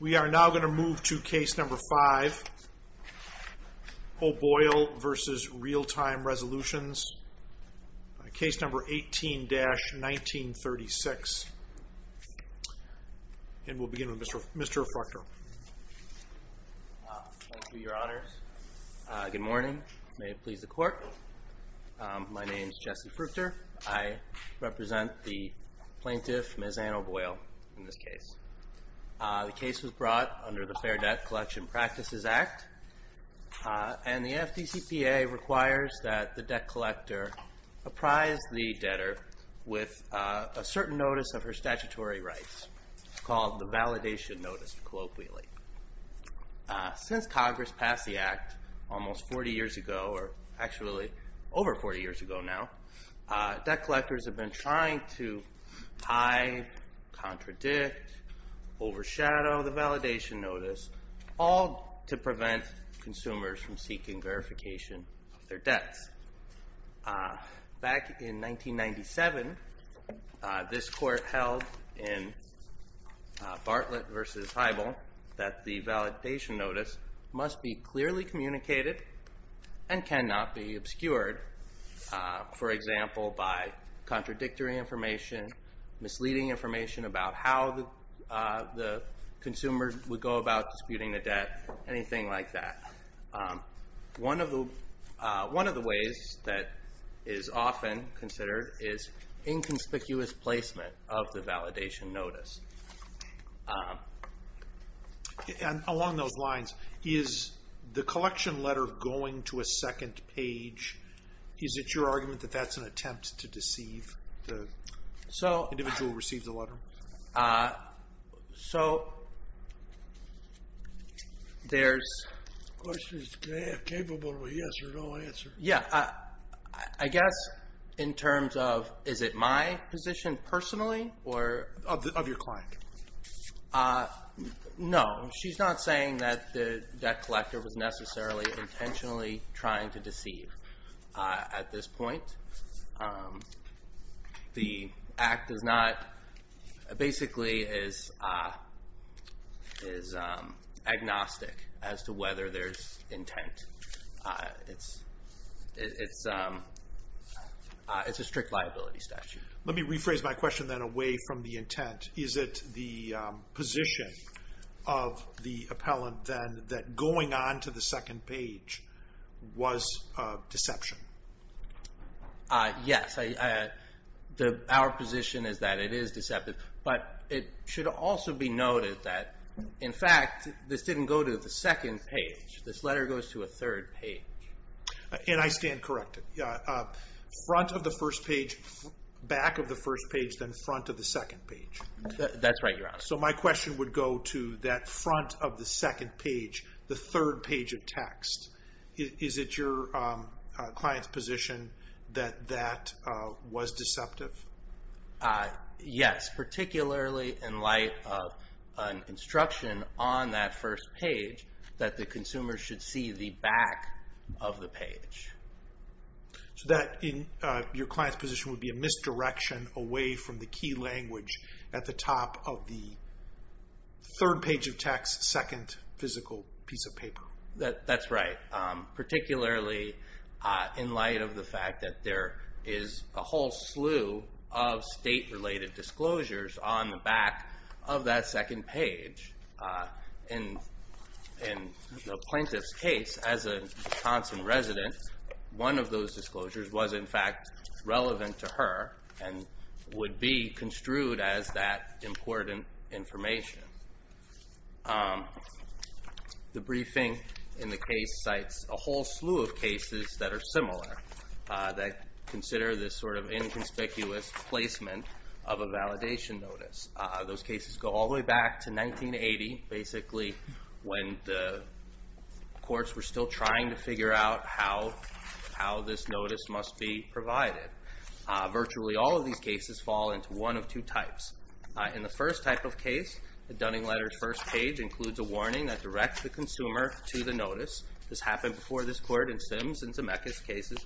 We are now going to move to Case No. 5, O' Boyle v. Real Time Resolutions, Case No. 18-1936. And we'll begin with Mr. Fruchter. Thank you, Your Honors. Good morning. May it please the Court. My name is Jesse Fruchter. I represent the plaintiff, Ms. Anne O' Boyle, in this case. The case was brought under the Fair Debt Collection Practices Act, and the FDCPA requires that the debt collector apprise the debtor with a certain notice of her statutory rights called the Validation Notice, colloquially. Since Congress passed the Act almost 40 years ago, or actually over 40 years ago now, debt collectors have been trying to hide, contradict, overshadow the Validation Notice, all to prevent consumers from seeking verification of their debts. Back in 1997, this Court held in Bartlett v. Heibel that the Validation Notice must be clearly communicated and cannot be obscured, for example, by contradictory information, misleading information about how the consumer would go about disputing the debt, anything like that. One of the ways that is often considered is inconspicuous placement of the Validation Notice. And along those lines, is the collection letter going to a second page? Is it your argument that that's an attempt to deceive the individual who received the letter? So, there's... The question is, is it capable of a yes or no answer? Yeah, I guess in terms of, is it my position personally, or... Of your client. No, she's not saying that the debt collector was necessarily intentionally trying to deceive. At this point, the Act is not... Basically is agnostic as to whether there's intent. It's a strict liability statute. Let me rephrase my question then away from the intent. Is it the position of the appellant then that going on to the second page was a deception? Yes, our position is that it is deceptive. But it should also be noted that, in fact, this didn't go to the second page. This letter goes to a third page. And I stand corrected. Front of the first page, back of the first page, then front of the second page. That's right, Your Honor. So, my question would go to that front of the second page, the third page of text. Is it your client's position that that was deceptive? Yes, particularly in light of an instruction on that first page that the consumer should see the back of the page. So that, in your client's position, would be a misdirection away from the key language at the top of the third page of text, second physical piece of paper. That's right. Particularly in light of the fact that there is a whole slew of state-related disclosures on the back of that second page. In the plaintiff's case, as a Johnson resident, one of those disclosures was, in fact, relevant to her and would be construed as that important information. The briefing in the case cites a whole slew of cases that are similar, that consider this sort of inconspicuous placement of a validation notice. Those cases go all the way back to 1980, basically, when the courts were still trying to figure out how this notice must be provided. Virtually all of these cases fall into one of two types. In the first type of case, the Dunning letter's first page includes a warning that directs the consumer to the notice. This happened before this court in Sims and Zemeckis cases.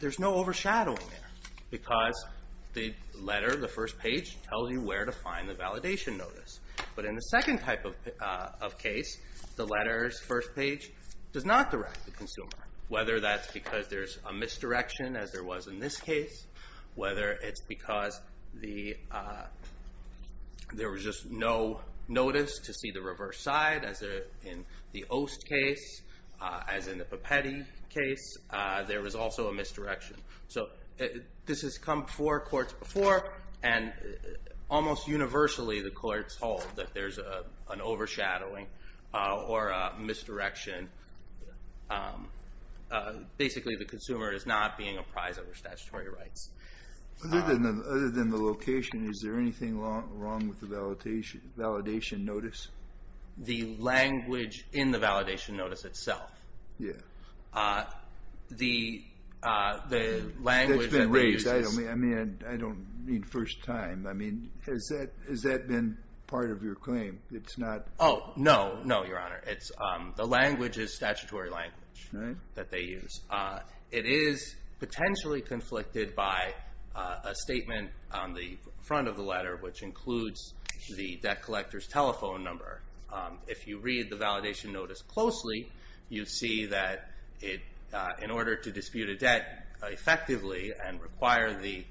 There's no overshadowing there because the letter, the first page, tells you where to find the validation notice. But in the second type of case, the letter's first page does not direct the consumer, whether that's because there's a misdirection, as there was in this case, whether it's because there was just no notice to see the reverse side, as in the Ost case, as in the Papetti case, there was also a misdirection. So this has come before courts before, and almost universally the courts hold that there's an overshadowing or a misdirection. Basically, the consumer is not being apprised of their statutory rights. Other than the location, is there anything wrong with the validation notice? The language in the validation notice itself. Yeah. The language that they use is... That's been raised. I mean, I don't mean first time. I mean, has that been part of your claim? It's not... Oh, no. No, Your Honor. The language is statutory language that they use. It is potentially conflicted by a statement on the front of the letter, which includes the debt collector's telephone number. If you read the validation notice closely, you see that in order to dispute a debt effectively and require the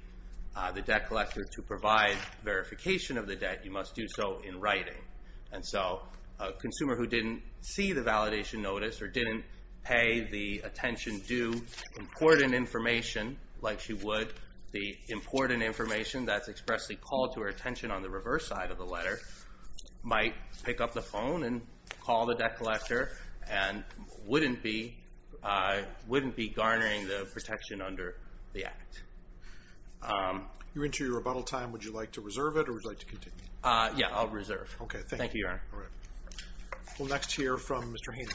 debt collector to provide verification of the debt, you must do so in writing. And so a consumer who didn't see the validation notice or didn't pay the attention due important information, like she would, the important information that's expressly called to her attention on the reverse side of the letter, might pick up the phone and call the debt collector and wouldn't be garnering the protection under the Act. You're into your rebuttal time. Would you like to reserve it or would you like to continue? Yeah. I'll reserve. Okay. Thank you. Thank you, Your Honor. All right. We'll next hear from Mr. Haynes.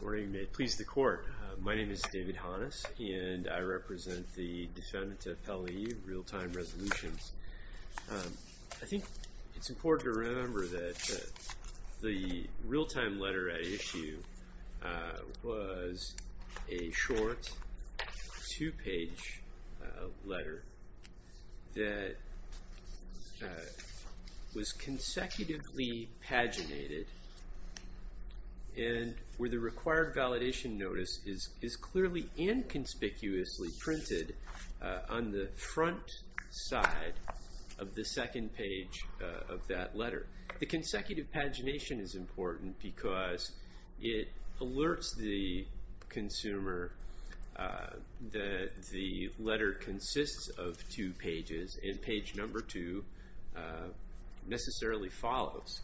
Good morning. May it please the Court. My name is David Hannes, and I represent the Defendant Appellee Real-Time Resolutions. I think it's important to remember that the real-time letter at issue was a short two-page letter that was consecutively paginated and where the required validation notice is clearly inconspicuously printed on the front side of the second page of that letter. The consecutive pagination is important because it alerts the consumer that the letter consists of two pages and page number two necessarily follows.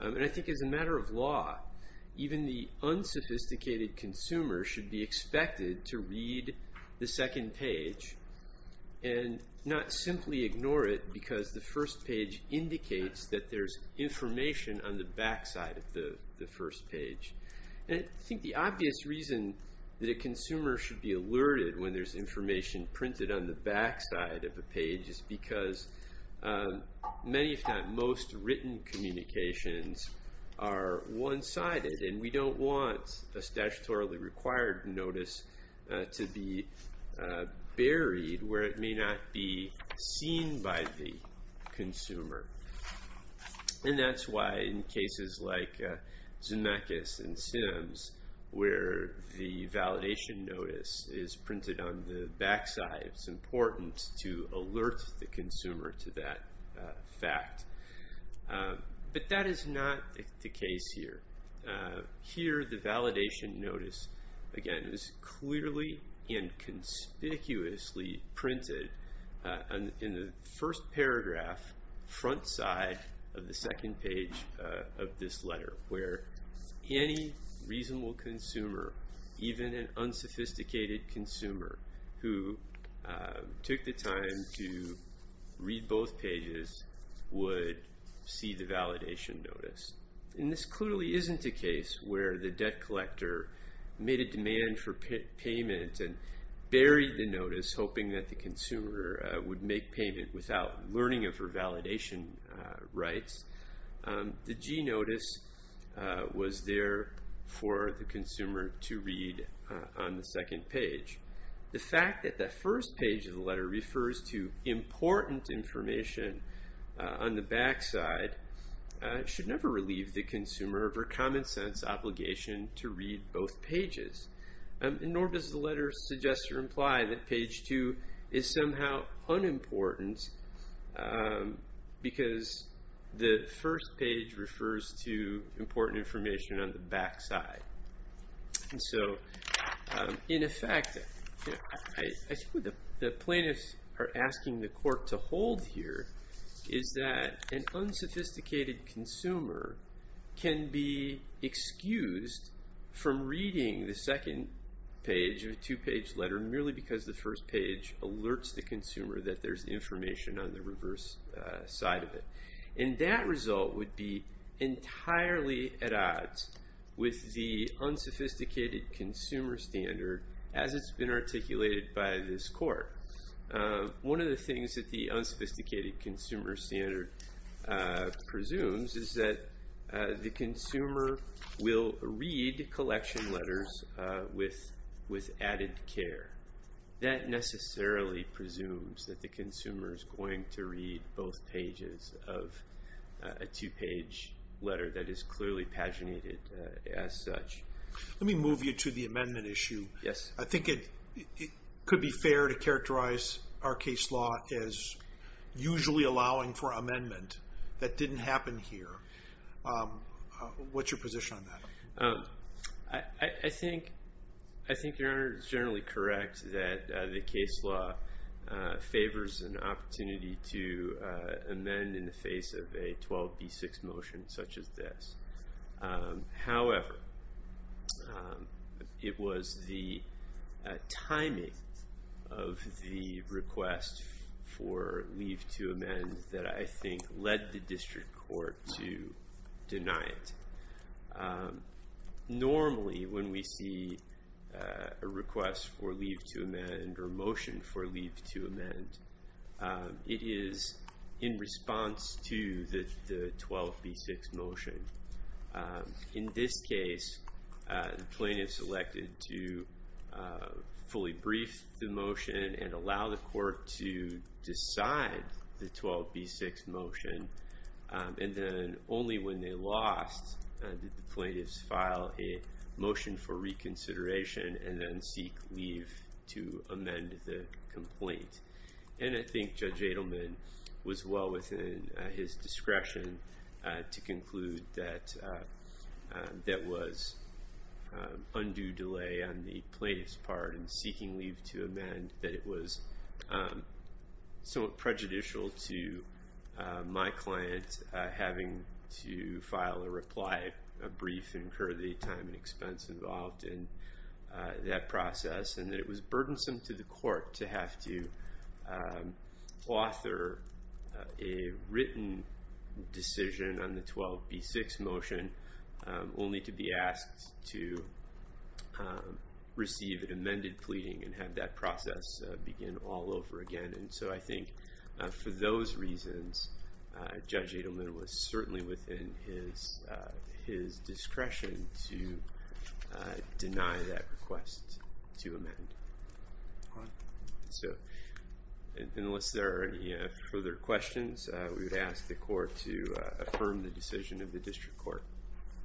And I think as a matter of law, even the unsophisticated consumer should be expected to read the second page and not simply ignore it because the first page indicates that there's information on the back side of the first page. And I think the obvious reason that a consumer should be alerted when there's information printed on the back side of a page is because many, if not most, written communications are one-sided, and we don't want a statutorily required notice to be buried where it may not be seen by the consumer. And that's why in cases like Zemeckis and Sims where the validation notice is printed on the back side, it's important to alert the consumer to that fact. But that is not the case here. Here the validation notice, again, is clearly and conspicuously printed in the first paragraph front side of the second page of this letter where any reasonable consumer, even an unsophisticated consumer, who took the time to read both pages would see the validation notice. And this clearly isn't a case where the debt collector made a demand for payment and buried the notice hoping that the consumer would make payment without learning of her validation rights. The G notice was there for the consumer to read on the second page. The fact that the first page of the letter refers to important information on the back side should never relieve the consumer of her common sense obligation to read both pages. Nor does the letter suggest or imply that page two is somehow unimportant because the first page refers to important information on the back side. And so, in effect, the plaintiffs are asking the court to hold here is that an unsophisticated consumer can be excused from reading the second page of a two-page letter merely because the first page alerts the consumer that there's information on the reverse side of it. And that result would be entirely at odds with the unsophisticated consumer standard as it's been articulated by this court. One of the things that the unsophisticated consumer standard presumes is that the consumer will read collection letters with added care. That necessarily presumes that the consumer is going to read both pages of a two-page letter that is clearly paginated as such. Let me move you to the amendment issue. Yes. I think it could be fair to characterize our case law as usually allowing for amendment. That didn't happen here. What's your position on that? I think Your Honor is generally correct that the case law favors an opportunity to amend in the face of a 12b6 motion such as this. However, it was the timing of the request for leave to amend that I think led the district court to deny it. Normally when we see a request for leave to amend or motion for leave to amend, it is in response to the 12b6 motion. In this case, the plaintiff selected to fully brief the motion and allow the court to decide the 12b6 motion. Only when they lost did the plaintiffs file a motion for reconsideration and then seek leave to amend the complaint. I think Judge Adelman was well within his discretion to conclude that there was undue delay on the plaintiff's part in seeking leave to amend, that it was somewhat prejudicial to my client having to file a reply brief and incur the time and expense involved in that process, and that it was burdensome to the court to have to author a written decision on the 12b6 motion only to be asked to receive an amended pleading and have that process begin all over again. And so I think for those reasons, Judge Adelman was certainly within his discretion to deny that request to amend. So unless there are any further questions, we would ask the court to affirm the decision of the district court.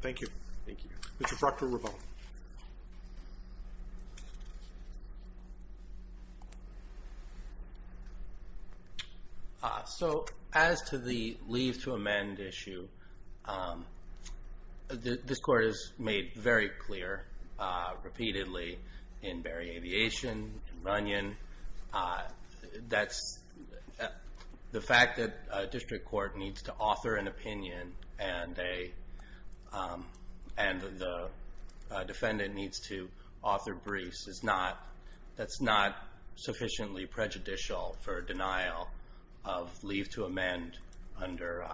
Thank you. Thank you. Mr. Proctor-Ravon. So as to the leave to amend issue, this court has made very clear repeatedly in Berry Aviation, in Runyon, that the fact that a district court needs to author an opinion and the defendant needs to author briefs, that's not sufficiently prejudicial for denial of leave to amend under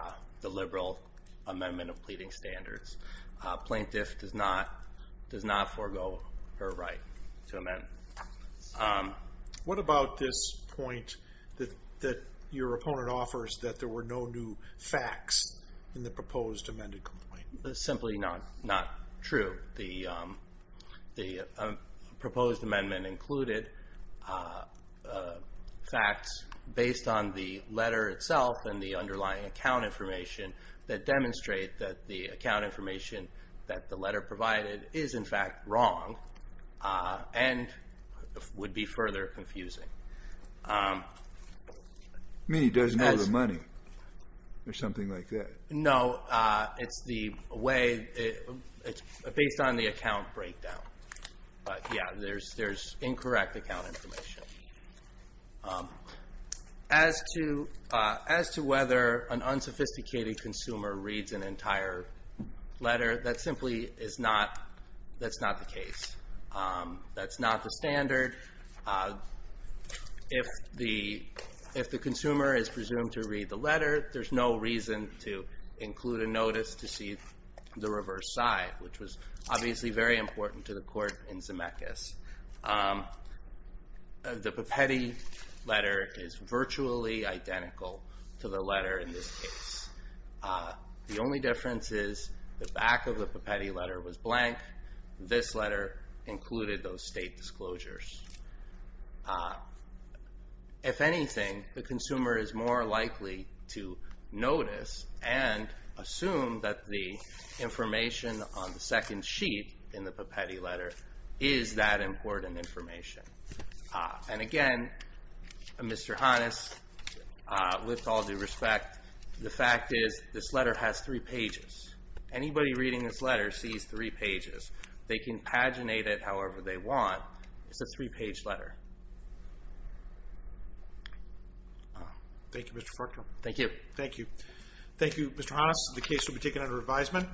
the liberal amendment of pleading standards. Plaintiff does not forego her right to amend. What about this point that your opponent offers, that there were no new facts in the proposed amended complaint? That's simply not true. The proposed amendment included facts based on the letter itself and the underlying account information that demonstrate that the account information that the letter provided is, in fact, wrong and would be further confusing. You mean he doesn't know the money or something like that? No. It's the way it's based on the account breakdown. But, yeah, there's incorrect account information. As to whether an unsophisticated consumer reads an entire letter, that simply is not the case. That's not the standard. If the consumer is presumed to read the letter, there's no reason to include a notice to see the reverse side, which was obviously very important to the court in Zemeckis. The pipette letter is virtually identical to the letter in this case. The only difference is the back of the pipette letter was blank. This letter included those state disclosures. If anything, the consumer is more likely to notice and assume that the information on the second sheet in the pipette letter is that important information. And, again, Mr. Hannes, with all due respect, the fact is this letter has three pages. Anybody reading this letter sees three pages. They can paginate it however they want. It's a three-page letter. Thank you, Mr. Fruchter. Thank you. Thank you. Thank you, Mr. Hannes. The case will be taken under revisement.